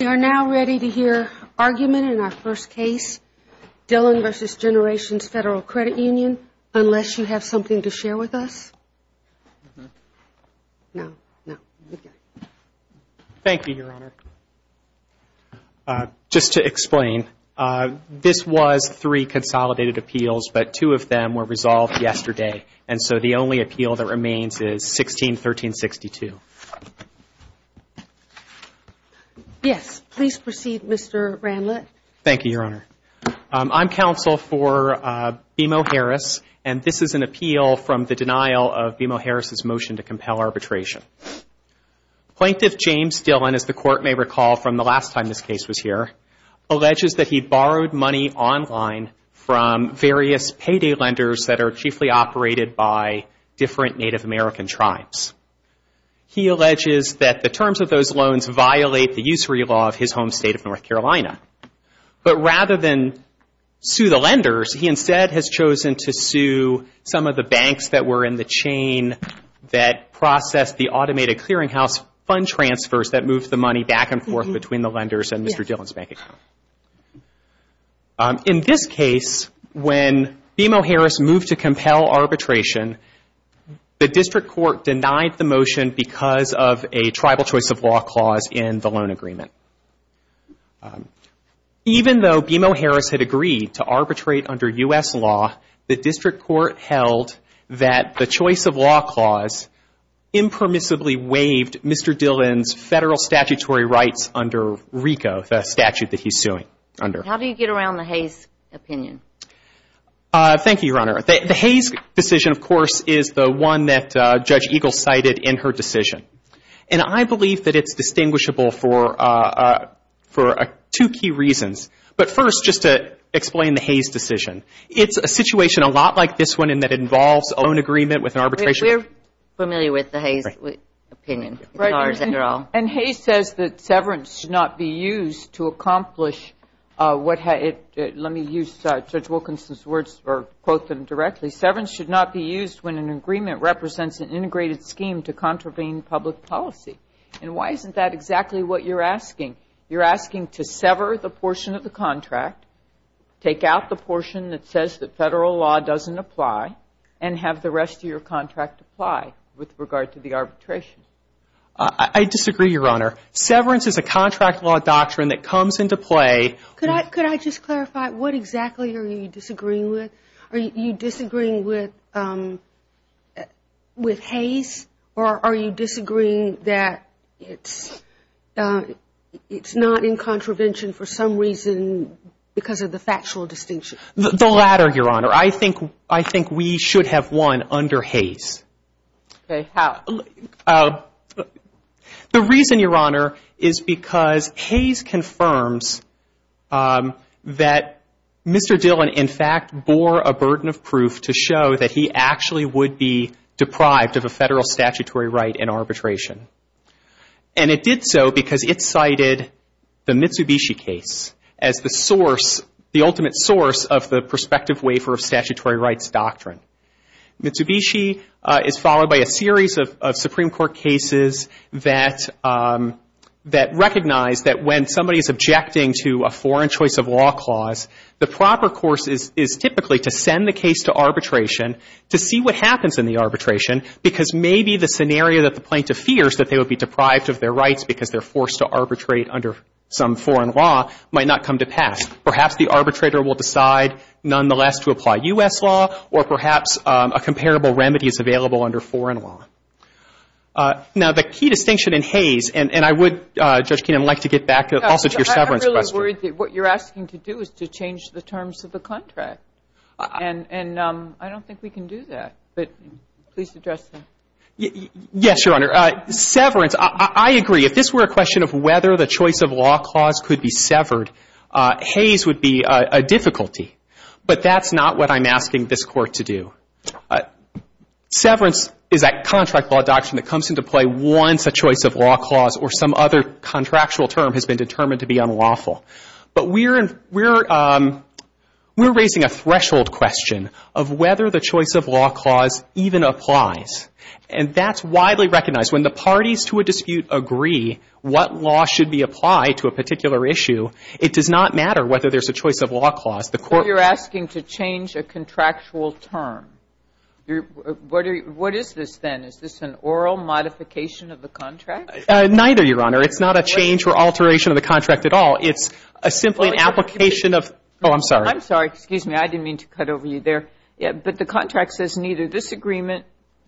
We are now ready to hear argument in our first case, Dillon v. Generations Federal Credit Union, unless you have something to share with us. No, no. Thank you, Your Honor. Just to explain, this was three consolidated appeals, but two of them were resolved yesterday, and so the only appeal that remains is 16-1362. Thank you. Yes, please proceed, Mr. Randlett. Thank you, Your Honor. I'm counsel for BMO Harris, and this is an appeal from the denial of BMO Harris's motion to compel arbitration. Plaintiff James Dillon, as the Court may recall from the last time this case was here, alleges that he borrowed money online from various payday lenders that are chiefly operated by different Native American tribes. He alleges that the terms of those loans violate the usury law of his home state of North Carolina, but rather than sue the lenders, he instead has chosen to sue some of the banks that were in the chain that processed the automated clearinghouse fund transfers that moved the money back and forth between the lenders and Mr. Dillon's bank account. In this case, when BMO Harris moved to compel arbitration, the district court denied the motion because of a tribal choice of law clause in the loan agreement. Even though BMO Harris had agreed to arbitrate under U.S. law, the district court held that the choice of law clause impermissibly waived Mr. Dillon's federal statutory rights under RICO, the statute that he's suing under. How do you get around the Hayes opinion? Thank you, Your Honor. The Hayes decision, of course, is the one that Judge Eagle cited in her decision, and I believe that it's distinguishable for two key reasons. But first, just to explain the Hayes decision. It's a situation a lot like this one in that it involves a loan agreement with an arbitration. We're familiar with the Hayes opinion. And Hayes says that severance should not be used to accomplish what had – let me use Judge Wilkinson's words or quote them directly. Severance should not be used when an agreement represents an integrated scheme to contravene public policy. And why isn't that exactly what you're asking? You're asking to sever the portion of the contract, take out the portion that says that federal law doesn't apply, and have the rest of your contract apply with regard to the arbitration. I disagree, Your Honor. Severance is a contract law doctrine that comes into play. Could I just clarify, what exactly are you disagreeing with? Are you disagreeing with Hayes, or are you disagreeing that it's not in contravention for some reason because of the factual distinction? The latter, Your Honor. I think we should have won under Hayes. Okay. How? The reason, Your Honor, is because Hayes confirms that Mr. Dillon, in fact, bore a burden of proof to show that he actually would be deprived of a federal statutory right in arbitration. And it did so because it cited the Mitsubishi case as the source, the ultimate source of the prospective waiver of statutory rights doctrine. Mitsubishi is followed by a series of Supreme Court cases that recognize that when somebody is objecting to a foreign choice of law clause, the proper course is typically to send the case to arbitration to see what happens in the arbitration, because maybe the scenario that the plaintiff fears, that they would be deprived of their rights because they're forced to arbitrate under some foreign law, might not come to pass. Perhaps the arbitrator will decide, nonetheless, to apply U.S. law, or perhaps a comparable remedy is available under foreign law. Now, the key distinction in Hayes, and I would, Judge Keenan, like to get back also to your severance question. I'm really worried that what you're asking to do is to change the terms of the contract. And I don't think we can do that. But please address that. Yes, Your Honor. Severance, I agree. If this were a question of whether the choice of law clause could be severed, Hayes would be a difficulty. But that's not what I'm asking this Court to do. Severance is that contract law doctrine that comes into play once a choice of law clause or some other contractual term has been determined to be unlawful. But we're raising a threshold question of whether the choice of law clause even applies. And that's widely recognized. When the parties to a dispute agree what law should be applied to a particular issue, it does not matter whether there's a choice of law clause. The Court ---- So you're asking to change a contractual term. What is this, then? Is this an oral modification of the contract? Neither, Your Honor. It's not a change or alteration of the contract at all. It's simply an application of ---- Oh, I'm sorry. I'm sorry. Excuse me. I didn't mean to cut over you there. But the contract says neither this agreement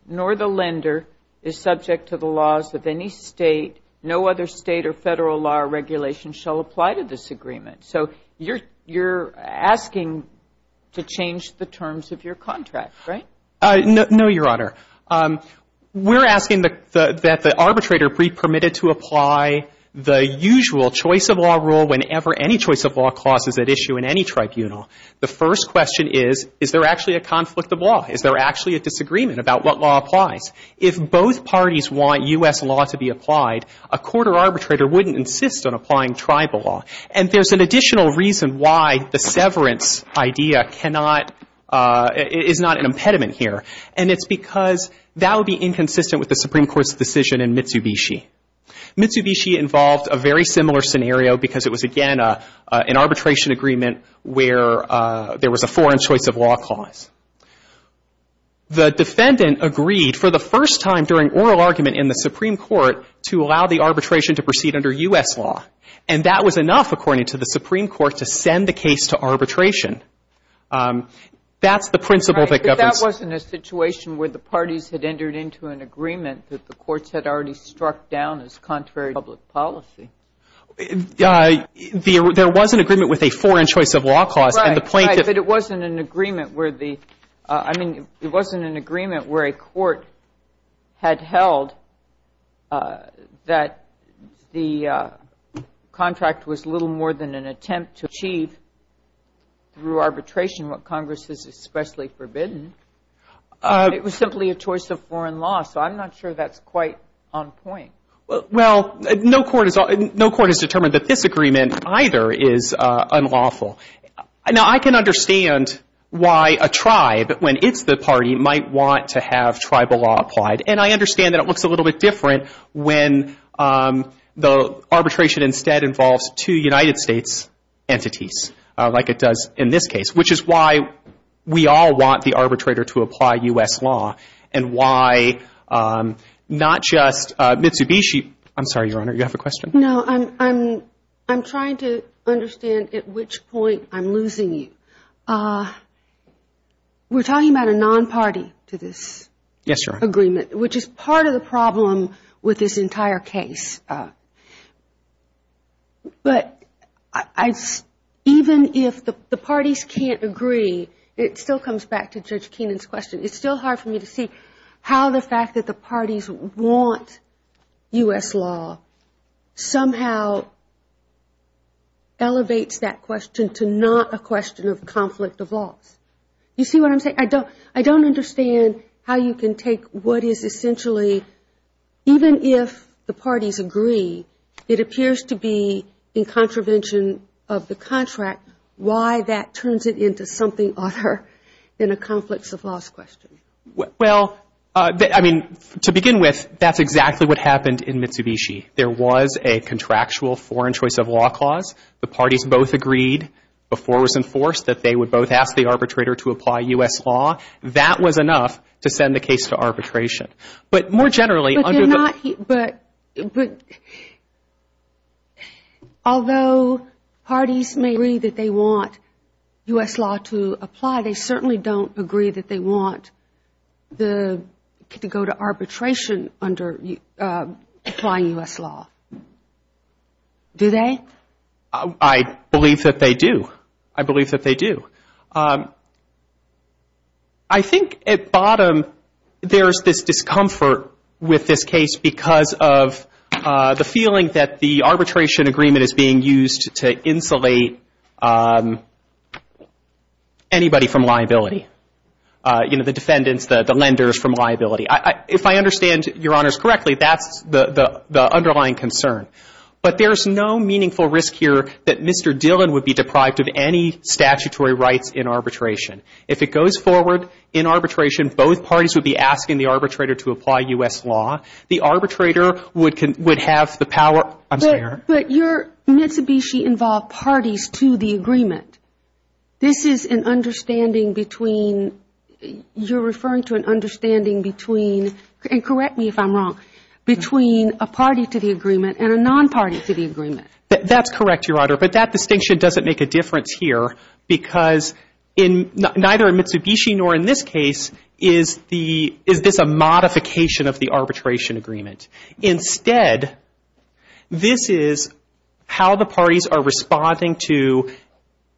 nor the lender is subject to the laws of any State. No other State or Federal law or regulation shall apply to this agreement. So you're asking to change the terms of your contract, right? No, Your Honor. We're asking that the arbitrator be permitted to apply the usual choice of law rule whenever any choice of law clause is at issue in any tribunal. The first question is, is there actually a conflict of law? Is there actually a disagreement about what law applies? If both parties want U.S. law to be applied, a court or arbitrator wouldn't insist on applying tribal law. And there's an additional reason why the severance idea cannot ---- is not an impediment here. And it's because that would be inconsistent with the Supreme Court's decision in Mitsubishi. Mitsubishi involved a very similar scenario because it was, again, an arbitration agreement where there was a foreign choice of law clause. The defendant agreed for the first time during oral argument in the Supreme Court to allow the arbitration to proceed under U.S. law. And that was enough, according to the Supreme Court, to send the case to arbitration. That's the principle that governs ---- But that wasn't a situation where the parties had entered into an agreement that the courts had already struck down as contrary to public policy. There was an agreement with a foreign choice of law clause. Right. But it wasn't an agreement where the ---- I mean, it wasn't an agreement where a court had held that the contract was little more than an attempt to achieve through arbitration what Congress has especially forbidden. It was simply a choice of foreign law. So I'm not sure that's quite on point. Well, no court has determined that this agreement either is unlawful. Now, I can understand why a tribe, when it's the party, might want to have tribal law applied. And I understand that it looks a little bit different when the arbitration instead involves two United States entities like it does in this case, which is why we all want the arbitrator to apply U.S. law and why not just Mitsubishi. I'm sorry, Your Honor. You have a question? No. I'm trying to understand at which point I'm losing you. We're talking about a non-party to this agreement, which is part of the problem with this entire case. But even if the parties can't agree, it still comes back to Judge Keenan's question. It's still hard for me to see how the fact that the parties want U.S. law somehow elevates that question to not a question of conflict of laws. You see what I'm saying? I don't understand how you can take what is essentially, even if the parties agree, it appears to be in contravention of the contract, why that turns it into something other than a conflicts of laws question. Well, I mean, to begin with, that's exactly what happened in Mitsubishi. There was a contractual foreign choice of law clause. The parties both agreed before it was enforced that they would both ask the arbitrator to apply U.S. law. That was enough to send the case to arbitration. But although parties may agree that they want U.S. law to apply, they certainly don't agree that they want to go to arbitration under applying U.S. law. Do they? I believe that they do. I believe that they do. I think at bottom there's this discomfort with this case because of the feeling that the arbitration agreement is being used to insulate anybody from liability, you know, the defendants, the lenders from liability. If I understand Your Honors correctly, that's the underlying concern. But there's no meaningful risk here that Mr. Dillon would be deprived of any statutory rights in arbitration. If it goes forward in arbitration, both parties would be asking the arbitrator to apply U.S. law. The arbitrator would have the power. But your Mitsubishi involved parties to the agreement. This is an understanding between, you're referring to an understanding between, and correct me if I'm wrong, between a party to the agreement and a non-party to the agreement. That's correct, Your Honor. But that distinction doesn't make a difference here because in, neither in Mitsubishi nor in this case is the, is this a modification of the arbitration agreement. Instead, this is how the parties are responding to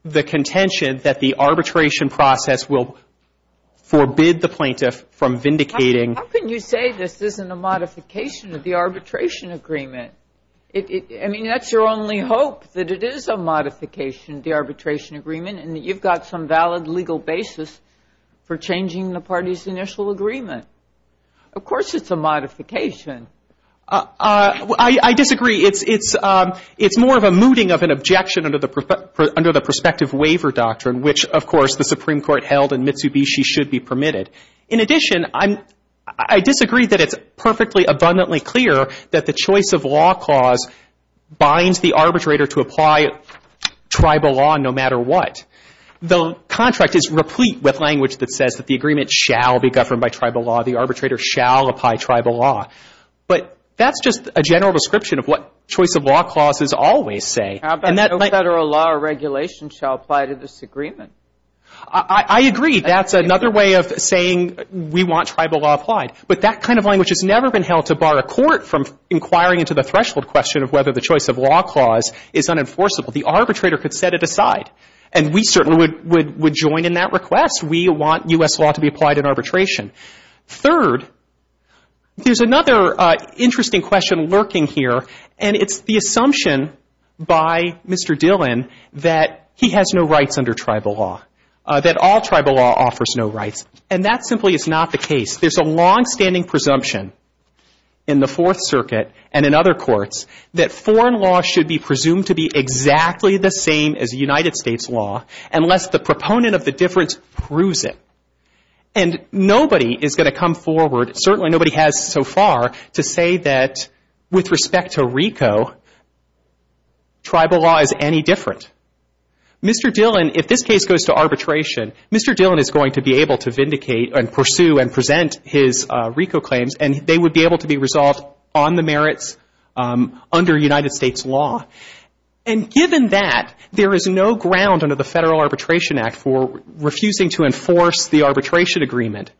the contention that the arbitration process will forbid the plaintiff from vindicating. How can you say this isn't a modification of the arbitration agreement? I mean, that's your only hope, that it is a modification of the arbitration agreement and that you've got some valid legal basis for changing the party's initial agreement. Of course it's a modification. I disagree. It's more of a mooting of an objection under the prospective waiver doctrine, which, of course, the Supreme Court held in Mitsubishi should be permitted. In addition, I disagree that it's perfectly abundantly clear that the choice of law clause binds the arbitrator to apply tribal law no matter what. The contract is replete with language that says that the agreement shall be governed by tribal law, the arbitrator shall apply tribal law. But that's just a general description of what choice of law clauses always say. How about no federal law or regulation shall apply to this agreement? I agree. That's another way of saying we want tribal law applied. But that kind of language has never been held to bar a court from inquiring into the threshold question of whether the choice of law clause is unenforceable. The arbitrator could set it aside, and we certainly would join in that request. We want U.S. law to be applied in arbitration. Third, there's another interesting question lurking here, and it's the assumption by Mr. Dillon that he has no rights under tribal law, that all tribal law offers no rights. And that simply is not the case. There's a longstanding presumption in the Fourth Circuit and in other courts that foreign law should be presumed to be exactly the same as United States law unless the proponent of the difference proves it. And nobody is going to come forward, certainly nobody has so far, to say that with respect to RICO, tribal law is any different. Mr. Dillon, if this case goes to arbitration, Mr. Dillon is going to be able to vindicate and pursue and present his RICO claims, and they would be able to be resolved on the merits under United States law. And given that, there is no ground under the Federal Arbitration Act for refusing to enforce the arbitration agreement.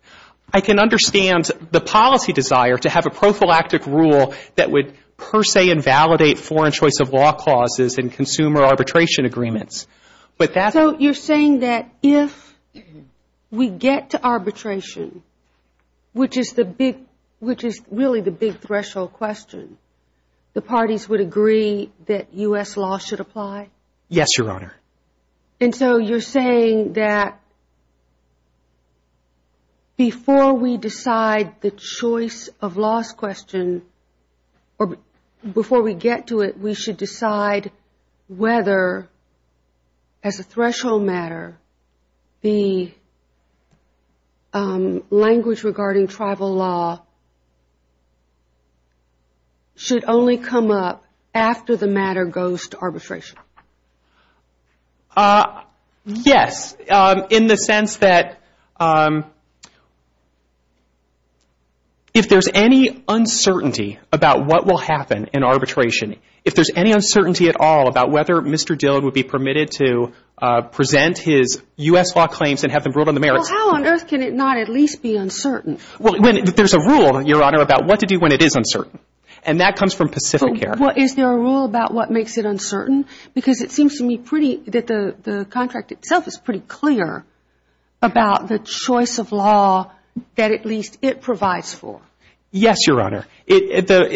I can understand the policy desire to have a prophylactic rule that would per se invalidate foreign choice of law clauses in consumer arbitration agreements. So you're saying that if we get to arbitration, which is really the big threshold question, the parties would agree that U.S. law should apply? Yes, Your Honor. And so you're saying that before we decide the choice of laws question, or before we get to it, we should decide whether, as a threshold matter, the language regarding tribal law should only come up after the matter goes to arbitration? Yes, in the sense that if there's any uncertainty about what will happen in arbitration, if there's any uncertainty at all about whether Mr. Dillon would be permitted to present his U.S. law claims and have them ruled on the merits. Well, how on earth can it not at least be uncertain? Well, there's a rule, Your Honor, about what to do when it is uncertain, and that comes from Pacific Air. Well, is there a rule about what makes it uncertain? Because it seems to me that the contract itself is pretty clear about the choice of law that at least it provides for. Yes, Your Honor. There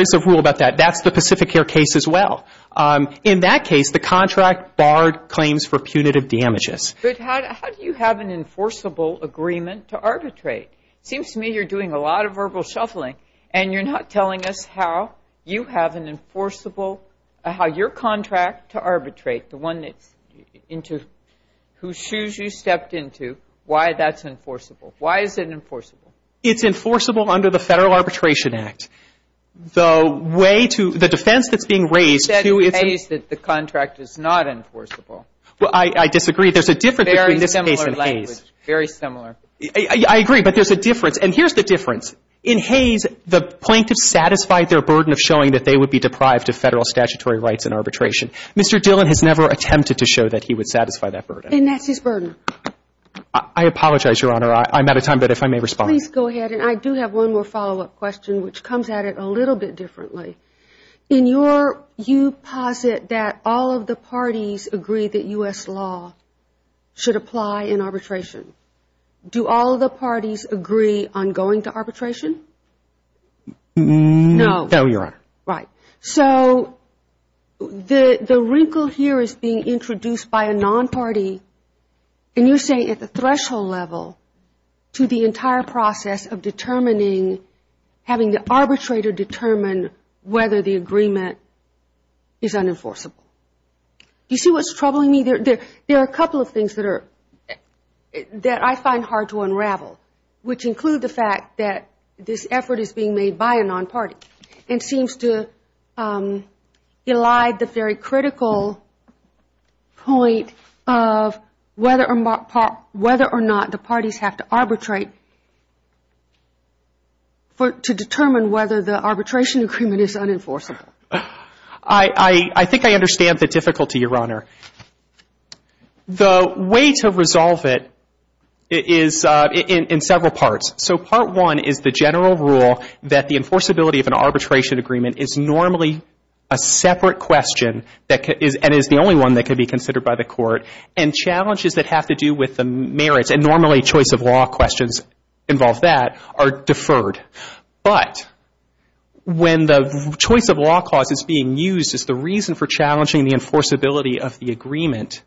is a rule about that. That's the Pacific Air case as well. In that case, the contract barred claims for punitive damages. But how do you have an enforceable agreement to arbitrate? It seems to me you're doing a lot of verbal shuffling, and you're not telling us how you have an enforceable, how your contract to arbitrate, the one that's into whose shoes you stepped into, why that's enforceable. Why is it enforceable? It's enforceable under the Federal Arbitration Act. The way to, the defense that's being raised to its- You said in Hayes that the contract is not enforceable. Well, I disagree. There's a difference between this case and Hayes. Very similar language. Very similar. I agree, but there's a difference. And here's the difference. In Hayes, the plaintiff satisfied their burden of showing that they would be deprived of Federal statutory rights in arbitration. Mr. Dillon has never attempted to show that he would satisfy that burden. And that's his burden. I apologize, Your Honor. I'm out of time, but if I may respond. Please go ahead. And I do have one more follow-up question, which comes at it a little bit differently. In your, you posit that all of the parties agree that U.S. law should apply in arbitration. Do all of the parties agree on going to arbitration? No. No, Your Honor. Right. So the wrinkle here is being introduced by a non-party. And you're saying at the threshold level to the entire process of determining, having the arbitrator determine whether the agreement is unenforceable. Do you see what's troubling me? There are a couple of things that I find hard to unravel, which include the fact that this effort is being made by a non-party and seems to elide the very critical point of whether or not the parties have to arbitrate to determine whether the arbitration agreement is unenforceable. I think I understand the difficulty, Your Honor. The way to resolve it is in several parts. So part one is the general rule that the enforceability of an arbitration agreement is normally a separate question and is the only one that can be considered by the court. And challenges that have to do with the merits, and normally choice of law questions involve that, are deferred. But when the choice of law clause is being used as the reason for challenging the enforceability of the agreement,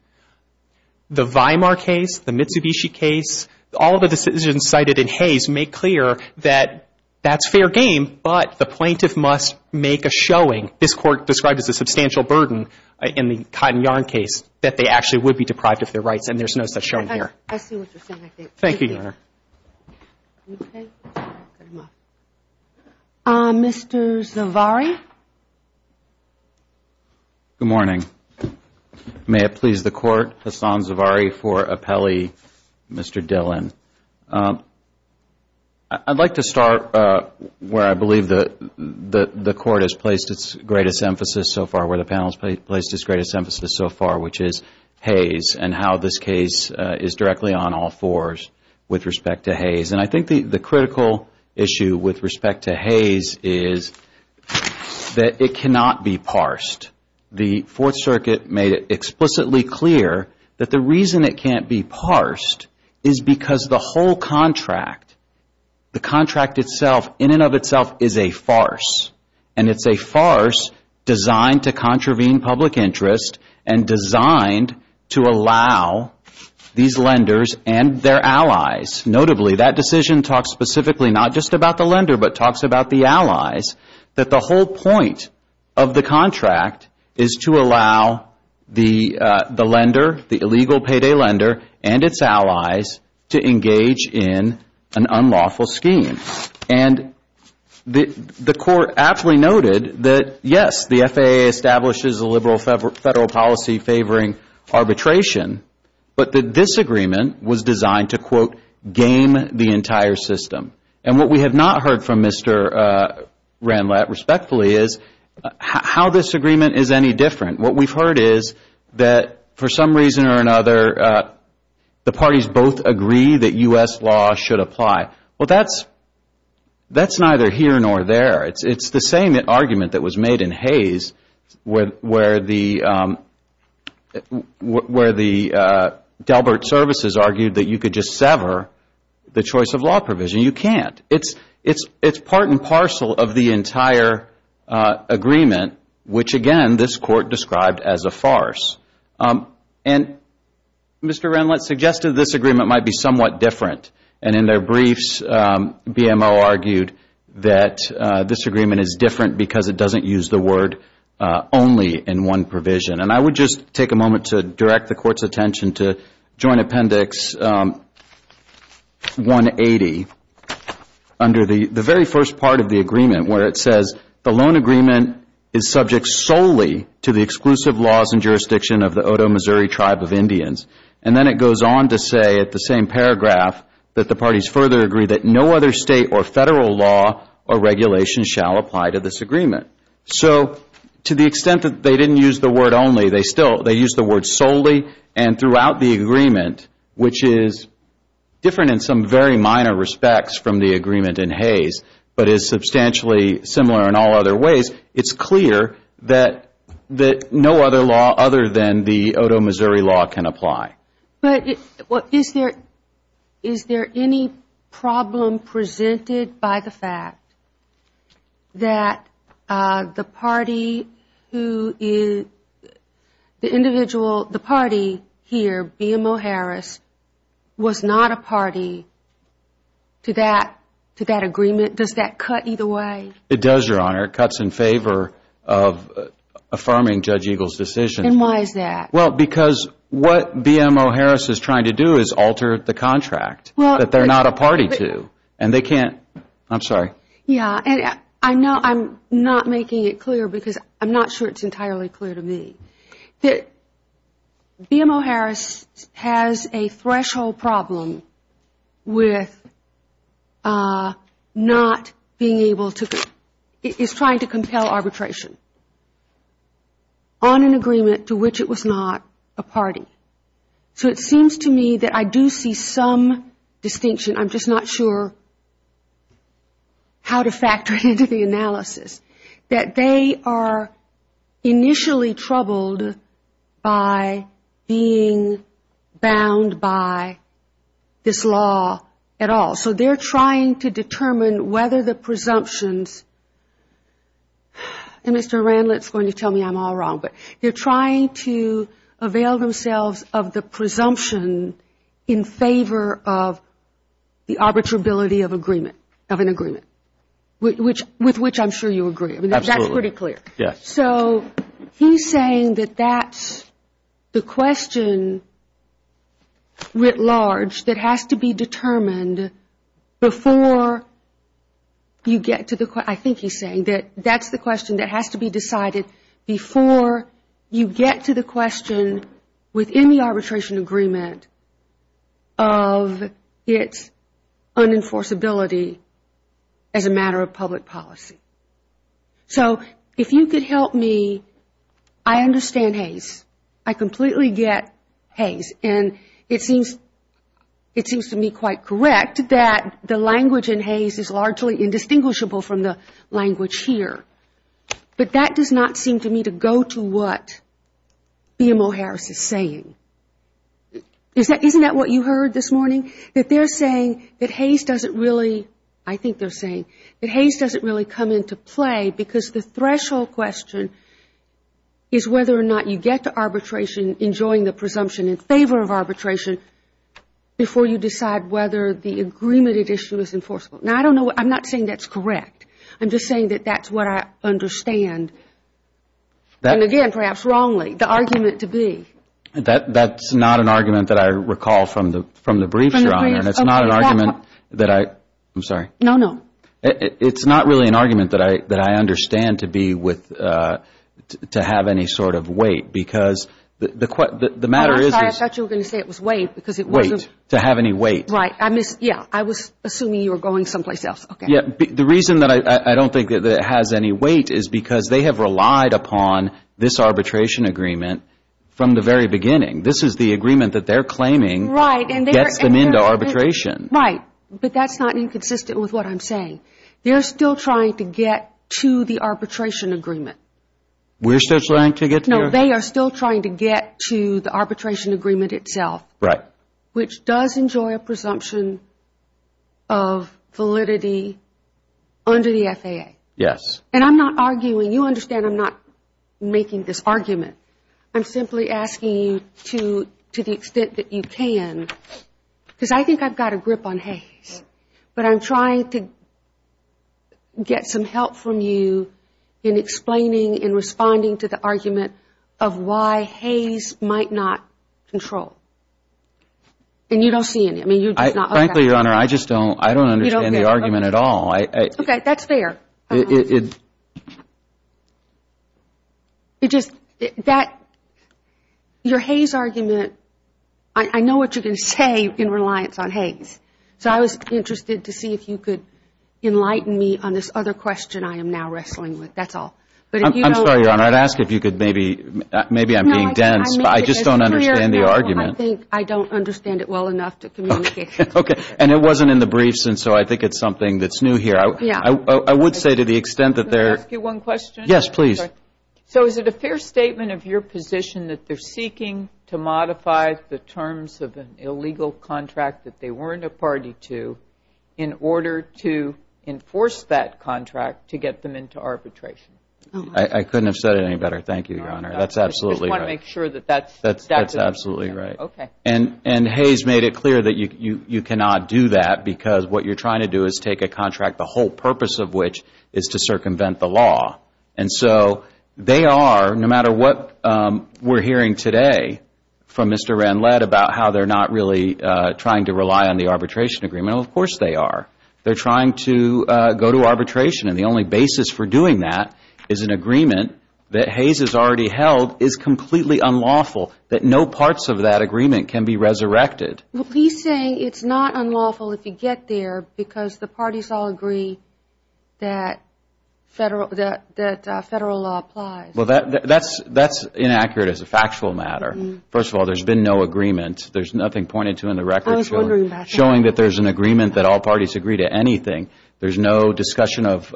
the Weimar case, the Mitsubishi case, all the decisions cited in Hayes make clear that that's fair game, but the plaintiff must make a showing. This Court described as a substantial burden in the Cotton Yarn case that they actually would be deprived of their rights, and there's no such showing here. I see what you're saying. Thank you, Your Honor. Mr. Zavarri? Good morning. May it please the Court, Hassan Zavarri for appellee, Mr. Dillon. I'd like to start where I believe the Court has placed its greatest emphasis so far, where the panel has placed its greatest emphasis so far, which is Hayes, and how this case is directly on all fours with respect to Hayes. And I think the critical issue with respect to Hayes is that it cannot be parsed. The Fourth Circuit made it explicitly clear that the reason it can't be parsed is because the whole contract, the contract itself in and of itself is a farce, and it's a farce designed to contravene public interest and designed to allow these lenders and their allies. Notably, that decision talks specifically not just about the lender, but talks about the allies, that the whole point of the contract is to allow the lender, the illegal payday lender and its allies to engage in an unlawful scheme. And the Court aptly noted that, yes, the FAA establishes a liberal federal policy favoring arbitration, but that this agreement was designed to, quote, game the entire system. And what we have not heard from Mr. Ranlett, respectfully, is how this agreement is any different. What we've heard is that, for some reason or another, the parties both agree that U.S. law should apply. Well, that's neither here nor there. It's the same argument that was made in Hayes, where the Delbert Services argued that you could just sever the choice of law provision. You can't. It's part and parcel of the entire agreement, which, again, this Court described as a farce. And Mr. Ranlett suggested this agreement might be somewhat different, and in their briefs, BMO argued that this agreement is different because it doesn't use the word only in one provision. And I would just take a moment to direct the Court's attention to Joint Appendix 180, under the very first part of the agreement, where it says, the loan agreement is subject solely to the exclusive laws and jurisdiction of the Otoe Missouri Tribe of Indians. And then it goes on to say, at the same paragraph, that the parties further agree that no other State or Federal law or regulation shall apply to this agreement. So to the extent that they didn't use the word only, they used the word solely, and throughout the agreement, which is different in some very minor respects from the agreement in Hayes, but is substantially similar in all other ways, it's clear that no other law other than the Otoe Missouri law can apply. Is there any problem presented by the fact that the party here, BMO Harris, was not a party to that agreement? Does that cut either way? It does, Your Honor. It cuts in favor of affirming Judge Eagle's decision. And why is that? Well, because what BMO Harris is trying to do is alter the contract that they're not a party to. And they can't, I'm sorry. Yeah, and I know I'm not making it clear because I'm not sure it's entirely clear to me. That BMO Harris has a threshold problem with not being able to, is trying to compel arbitration on an agreement to which it was not a party. So it seems to me that I do see some distinction, I'm just not sure how to factor it into the analysis, that they are initially troubled by being bound by this law at all. So they're trying to determine whether the presumptions, and Mr. Randlett's going to tell me I'm all wrong, but they're trying to avail themselves of the presumption in favor of the arbitrability of an agreement, with which I'm sure you agree. Absolutely. That's pretty clear. Yes. So he's saying that that's the question writ large that has to be determined before you get to the, I think he's saying that that's the question that has to be decided before you get to the question within the arbitration agreement of its unenforceability as a matter of public policy. So if you could help me, I understand Hays. I completely get Hays. And it seems to me quite correct that the language in Hays is largely indistinguishable from the language here. But that does not seem to me to go to what BMO Harris is saying. Isn't that what you heard this morning, that they're saying that Hays doesn't really, I think they're saying, that Hays doesn't really come into play because the threshold question is whether or not you get to arbitration enjoying the presumption in favor of arbitration before you decide whether the agreement at issue is enforceable. Now, I don't know, I'm not saying that's correct. I'm just saying that that's what I understand. And again, perhaps wrongly, the argument to be. That's not an argument that I recall from the briefs, Your Honor. And it's not an argument that I, I'm sorry. No, no. It's not really an argument that I understand to be with, to have any sort of weight because the matter is. I'm sorry, I thought you were going to say it was weight because it wasn't. Weight, to have any weight. Right, I missed, yeah, I was assuming you were going someplace else. Yeah, the reason that I don't think that it has any weight is because they have relied upon this arbitration agreement from the very beginning. This is the agreement that they're claiming gets them into arbitration. Right, but that's not inconsistent with what I'm saying. They're still trying to get to the arbitration agreement. We're still trying to get there? No, they are still trying to get to the arbitration agreement itself. Right. Which does enjoy a presumption of validity under the FAA. Yes. And I'm not arguing, you understand I'm not making this argument. I'm simply asking you to, to the extent that you can, because I think I've got a grip on Hayes. But I'm trying to get some help from you in explaining and responding to the argument of why Hayes might not control. And you don't see any, I mean you're just not. Frankly, Your Honor, I just don't, I don't understand the argument at all. Okay, that's fair. It just, that, your Hayes argument, I know what you're going to say in reliance on Hayes. So I was interested to see if you could enlighten me on this other question I am now wrestling with, that's all. I'm sorry, Your Honor, I'd ask if you could maybe, maybe I'm being dense. I just don't understand the argument. I think I don't understand it well enough to communicate. Okay. And it wasn't in the briefs and so I think it's something that's new here. Yeah. I would say to the extent that there. Can I ask you one question? Yes, please. So is it a fair statement of your position that they're seeking to modify the terms of an illegal contract that they weren't a party to in order to enforce that contract to get them into arbitration? I couldn't have said it any better. Thank you, Your Honor. That's absolutely right. I just want to make sure that that's. That's absolutely right. Okay. And Hayes made it clear that you cannot do that because what you're trying to do is take a contract, the whole purpose of which is to circumvent the law. And so they are, no matter what we're hearing today from Mr. Ranlett about how they're not really trying to rely on the arbitration agreement, well, of course they are. They're trying to go to arbitration and the only basis for doing that is an agreement that Hayes has already held is completely unlawful, that no parts of that agreement can be resurrected. He's saying it's not unlawful if you get there because the parties all agree that federal law applies. Well, that's inaccurate as a factual matter. First of all, there's been no agreement. There's nothing pointed to in the record showing that there's an agreement that all parties agree to anything. There's no discussion of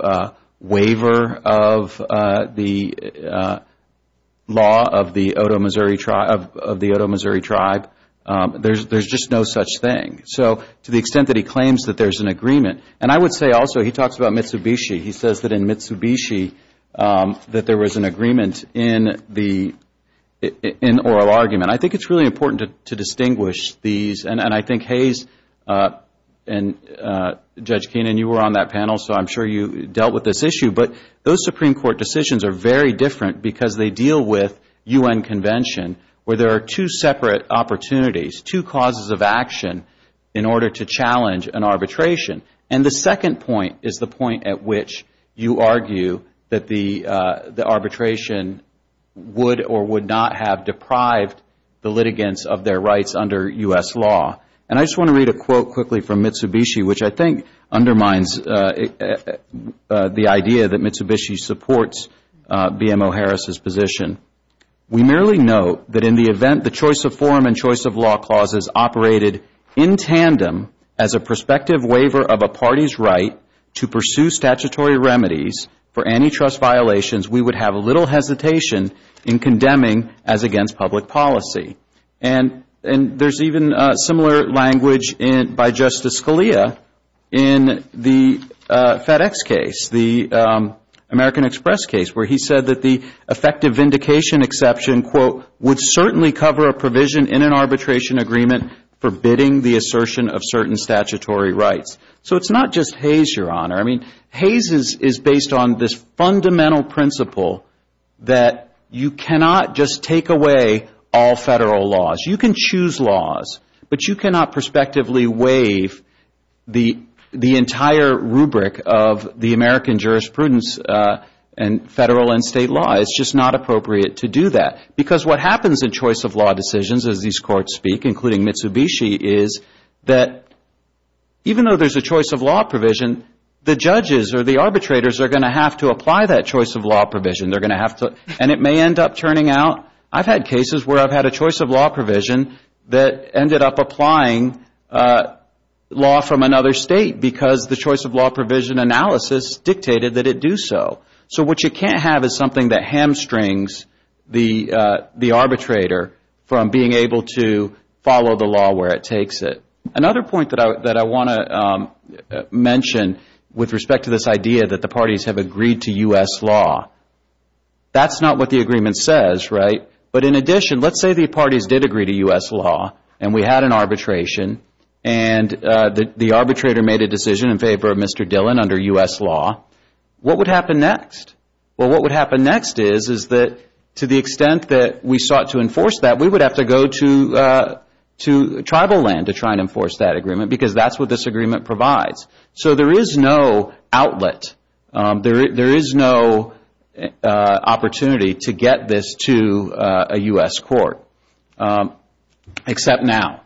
waiver of the law of the Otoe Missouri tribe. There's just no such thing. So to the extent that he claims that there's an agreement, and I would say also he talks about Mitsubishi. He says that in Mitsubishi that there was an agreement in the oral argument. I think it's really important to distinguish these. And I think Hayes and Judge Keenan, you were on that panel, so I'm sure you dealt with this issue. But those Supreme Court decisions are very different because they deal with U.N. convention where there are two separate opportunities, two causes of action in order to challenge an arbitration. And the second point is the point at which you argue that the arbitration would or would not have deprived the And I just want to read a quote quickly from Mitsubishi, which I think undermines the idea that Mitsubishi supports BMO Harris's position. We merely note that in the event the choice of form and choice of law clauses operated in tandem as a prospective waiver of a party's right to pursue statutory remedies for antitrust violations, we would have little hesitation in condemning as against public policy. And there's even similar language by Justice Scalia in the FedEx case, the American Express case, where he said that the effective vindication exception, quote, would certainly cover a provision in an arbitration agreement forbidding the assertion of certain statutory rights. So it's not just Hayes, Your Honor. I mean, Hayes is based on this fundamental principle that you cannot just take away all federal laws. You can choose laws, but you cannot prospectively waive the entire rubric of the American jurisprudence and federal and state law. It's just not appropriate to do that. Because what happens in choice of law decisions, as these courts speak, including Mitsubishi, is that even though there's a choice of law provision, the judges or the arbitrators are going to have to apply that choice of law provision. And it may end up turning out. I've had cases where I've had a choice of law provision that ended up applying law from another state because the choice of law provision analysis dictated that it do so. So what you can't have is something that hamstrings the arbitrator from being able to follow the law where it takes it. Another point that I want to mention with respect to this idea that the parties have agreed to U.S. law. That's not what the agreement says, right? But in addition, let's say the parties did agree to U.S. law and we had an arbitration and the arbitrator made a decision in favor of Mr. Dillon under U.S. law. What would happen next? Well, what would happen next is that to the extent that we sought to enforce that, we would have to go to tribal land to try and enforce that agreement because that's what this agreement provides. So there is no outlet. There is no opportunity to get this to a U.S. court except now.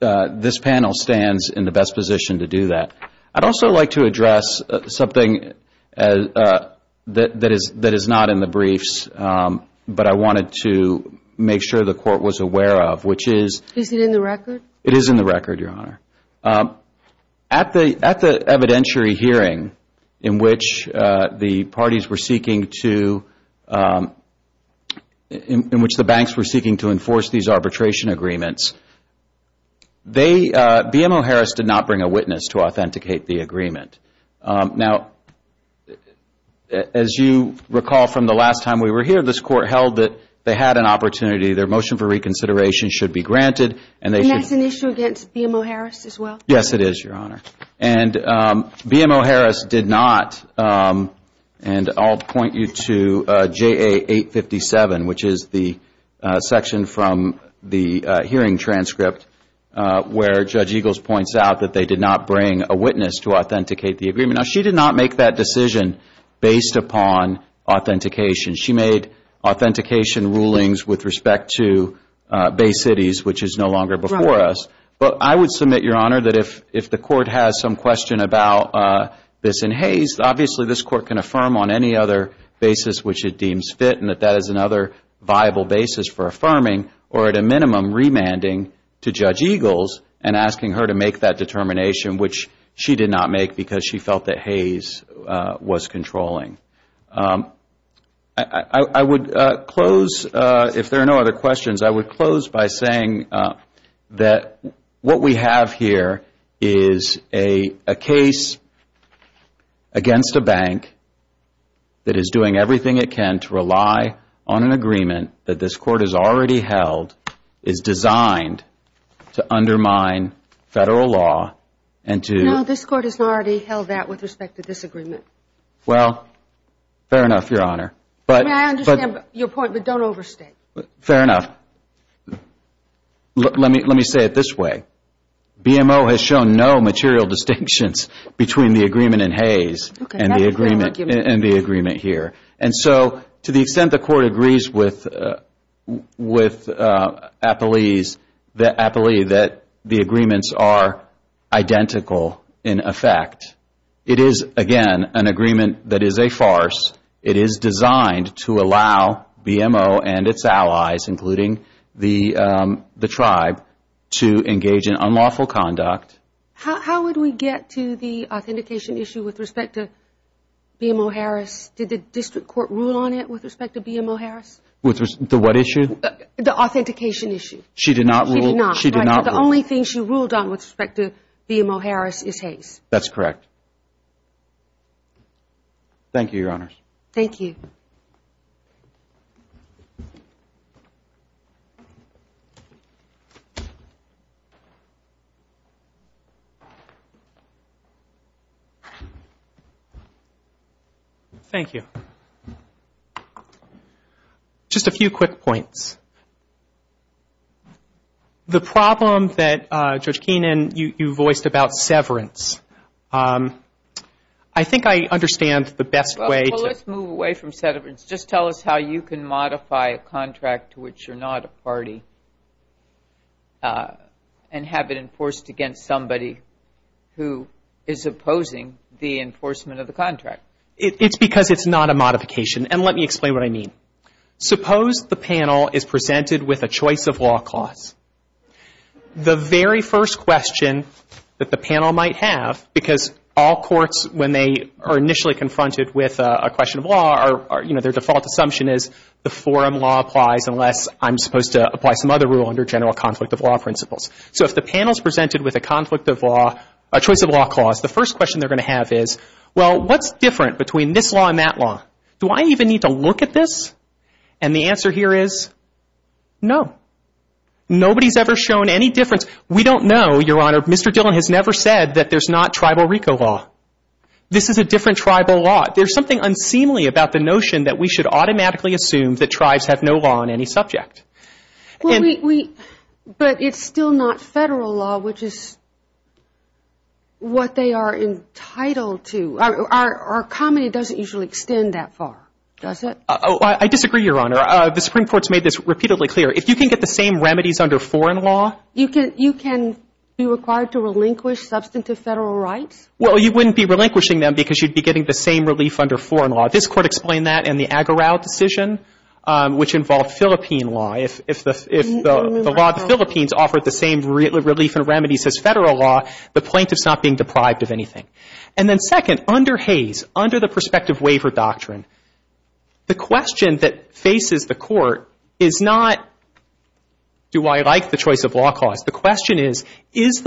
This panel stands in the best position to do that. I'd also like to address something that is not in the briefs, but I wanted to make sure the court was aware of, which is. Is it in the record? It is in the record, Your Honor. At the evidentiary hearing in which the parties were seeking to, in which the banks were seeking to enforce these arbitration agreements, BMO Harris did not bring a witness to authenticate the agreement. Now, as you recall from the last time we were here, this court held that they had an opportunity. Their motion for reconsideration should be granted. And that's an issue against BMO Harris as well? Yes, it is, Your Honor. And BMO Harris did not, and I'll point you to JA 857, which is the section from the hearing transcript, where Judge Eagles points out that they did not bring a witness to authenticate the agreement. Now, she did not make that decision based upon authentication. She made authentication rulings with respect to Bay Cities, which is no longer before us. But I would submit, Your Honor, that if the court has some question about this in Hays, obviously this court can affirm on any other basis which it deems fit and that that is another viable basis for affirming or, at a minimum, remanding to Judge Eagles and asking her to make that determination, which she did not make because she felt that Hays was controlling. I would close, if there are no other questions, I would close by saying that what we have here is a case against a bank that is doing everything it can to rely on an agreement that this court has already held, is designed to undermine Federal law and to... No, this court has already held that with respect to this agreement. Well, fair enough, Your Honor. I understand your point, but don't overstate. Fair enough. Let me say it this way. BMO has shown no material distinctions between the agreement in Hays and the agreement here. And so, to the extent the court agrees with Apolli that the agreements are identical in effect, it is, again, an agreement that is a farce. It is designed to allow BMO and its allies, including the tribe, to engage in unlawful conduct. How would we get to the authentication issue with respect to BMO Harris? Did the district court rule on it with respect to BMO Harris? With respect to what issue? The authentication issue. She did not rule. She did not. The only thing she ruled on with respect to BMO Harris is Hays. That's correct. Thank you, Your Honors. Thank you. Thank you. Thank you. Just a few quick points. The problem that, Judge Keenan, you voiced about severance, I think I understand the best way to Let's move away from severance. Just tell us how you can modify a contract to which you're not a party and have it enforced against somebody who is opposing the enforcement of the contract. It's because it's not a modification. And let me explain what I mean. Suppose the panel is presented with a choice of law clause. The very first question that the panel might have, because all courts, when they are initially confronted with a question of law, their default assumption is the forum law applies unless I'm supposed to apply some other rule under general conflict of law principles. So if the panel is presented with a conflict of law, a choice of law clause, the first question they're going to have is, well, what's different between this law and that law? Do I even need to look at this? And the answer here is no. Nobody's ever shown any difference. We don't know, Your Honor. Mr. Dillon has never said that there's not tribal RICO law. This is a different tribal law. There's something unseemly about the notion that we should automatically assume that tribes have no law on any subject. But it's still not federal law, which is what they are entitled to. Our comedy doesn't usually extend that far, does it? I disagree, Your Honor. The Supreme Court's made this repeatedly clear. If you can get the same remedies under foreign law. You can be required to relinquish substantive federal rights? Well, you wouldn't be relinquishing them because you'd be getting the same relief under foreign law. This Court explained that in the Aguerao decision, which involved Philippine law. If the law of the Philippines offered the same relief and remedies as federal law, the plaintiff's not being deprived of anything. And then second, under Hays, under the prospective waiver doctrine, the question that faces the Court is not, do I like the choice of law cause? The question is, is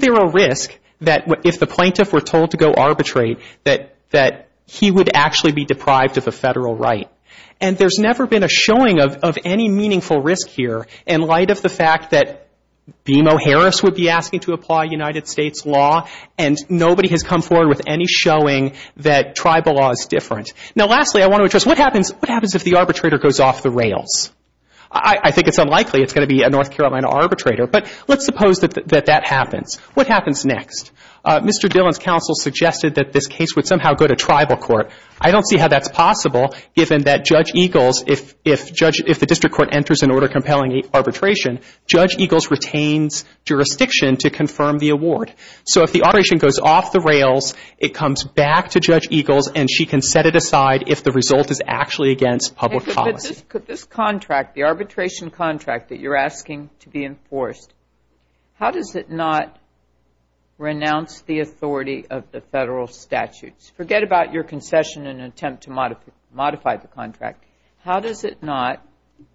there a risk that if the plaintiff were told to go arbitrate, that he would actually be deprived of a federal right? And there's never been a showing of any meaningful risk here in light of the fact that has come forward with any showing that tribal law is different. Now, lastly, I want to address, what happens if the arbitrator goes off the rails? I think it's unlikely it's going to be a North Carolina arbitrator. But let's suppose that that happens. What happens next? Mr. Dillon's counsel suggested that this case would somehow go to tribal court. I don't see how that's possible, given that Judge Eagles, if the district court enters an order compelling arbitration, Judge Eagles retains jurisdiction to confirm the award. So if the arbitration goes off the rails, it comes back to Judge Eagles, and she can set it aside if the result is actually against public policy. But this contract, the arbitration contract that you're asking to be enforced, how does it not renounce the authority of the federal statutes? Forget about your concession and attempt to modify the contract. How does it not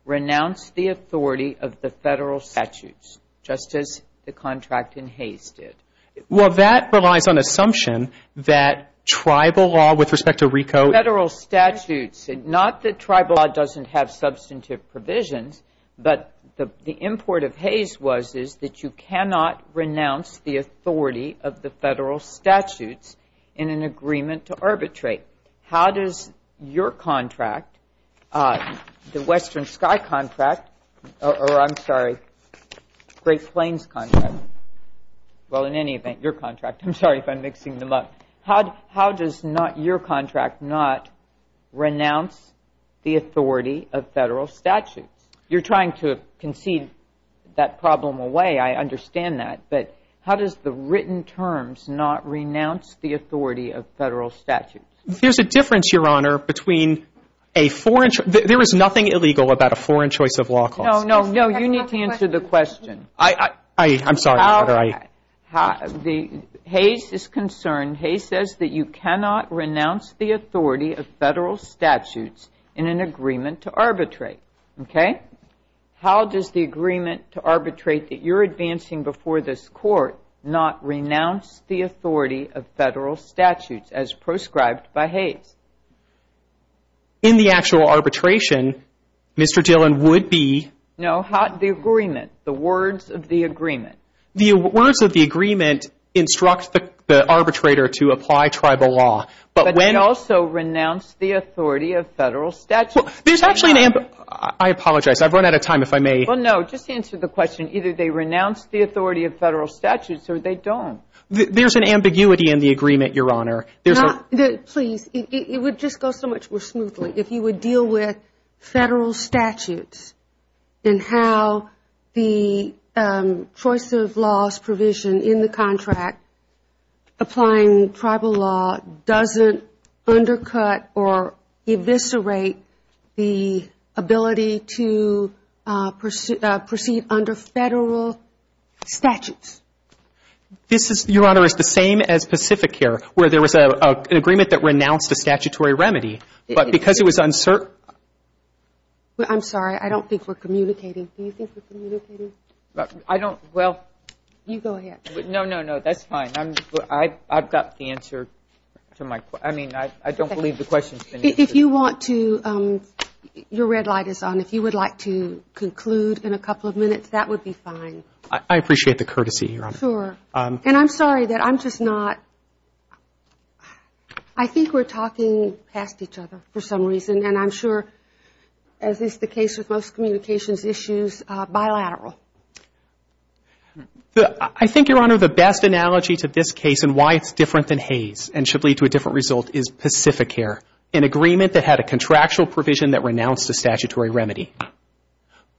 renounce the authority of the federal statutes, just as the contract in Hays did? Well, that relies on assumption that tribal law with respect to RICO. Federal statutes, not that tribal law doesn't have substantive provisions, but the import of Hays was that you cannot renounce the authority of the federal statutes in an agreement to arbitrate. How does your contract, the Western Sky contract, or I'm sorry, Great Plains contract, well, in any event, your contract, I'm sorry if I'm mixing them up. How does not your contract not renounce the authority of federal statutes? You're trying to concede that problem away. I understand that. But how does the written terms not renounce the authority of federal statutes? There's a difference, Your Honor, between a foreign choice. There is nothing illegal about a foreign choice of law clause. No, no, no. You need to answer the question. I'm sorry, Your Honor. Hays is concerned. Hays says that you cannot renounce the authority of federal statutes in an agreement to arbitrate. Okay? How does the agreement to arbitrate that you're advancing before this Court not renounce the authority of federal statutes as proscribed by Hays? In the actual arbitration, Mr. Dillon, would be? No, the agreement, the words of the agreement. The words of the agreement instruct the arbitrator to apply tribal law. But they also renounce the authority of federal statutes. I apologize. I've run out of time, if I may. Well, no. Just answer the question. Either they renounce the authority of federal statutes or they don't. There's an ambiguity in the agreement, Your Honor. Please. It would just go so much more smoothly if you would deal with federal statutes and how the choice of laws provision in the contract applying tribal law doesn't undercut or eviscerate the ability to proceed under federal statutes. This, Your Honor, is the same as Pacificare, where there was an agreement that renounced a statutory remedy. But because it was uncertain. I'm sorry. I don't think we're communicating. Do you think we're communicating? I don't. Well, you go ahead. No, no, no. That's fine. I've got the answer to my question. I mean, I don't believe the question's been answered. If you want to, your red light is on. If you would like to conclude in a couple of minutes, that would be fine. I appreciate the courtesy, Your Honor. Sure. And I'm sorry that I'm just not. I think we're talking past each other for some reason. And I'm sure, as is the case with most communications issues, bilateral. I think, Your Honor, the best analogy to this case and why it's different than Hays and should lead to a different result is Pacificare, an agreement that had a contractual provision that renounced a statutory remedy.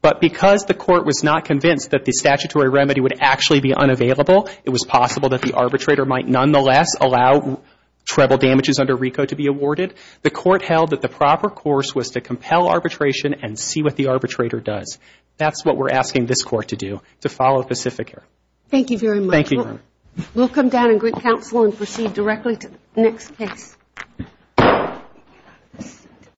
But because the court was not convinced that the statutory remedy would actually be unavailable, it was possible that the arbitrator might nonetheless allow treble damages under RICO to be awarded. The court held that the proper course was to compel arbitration and see what the arbitrator does. That's what we're asking this court to do, to follow Pacificare. Thank you very much. Thank you, Your Honor. We'll come down and greet counsel and proceed directly to the next case.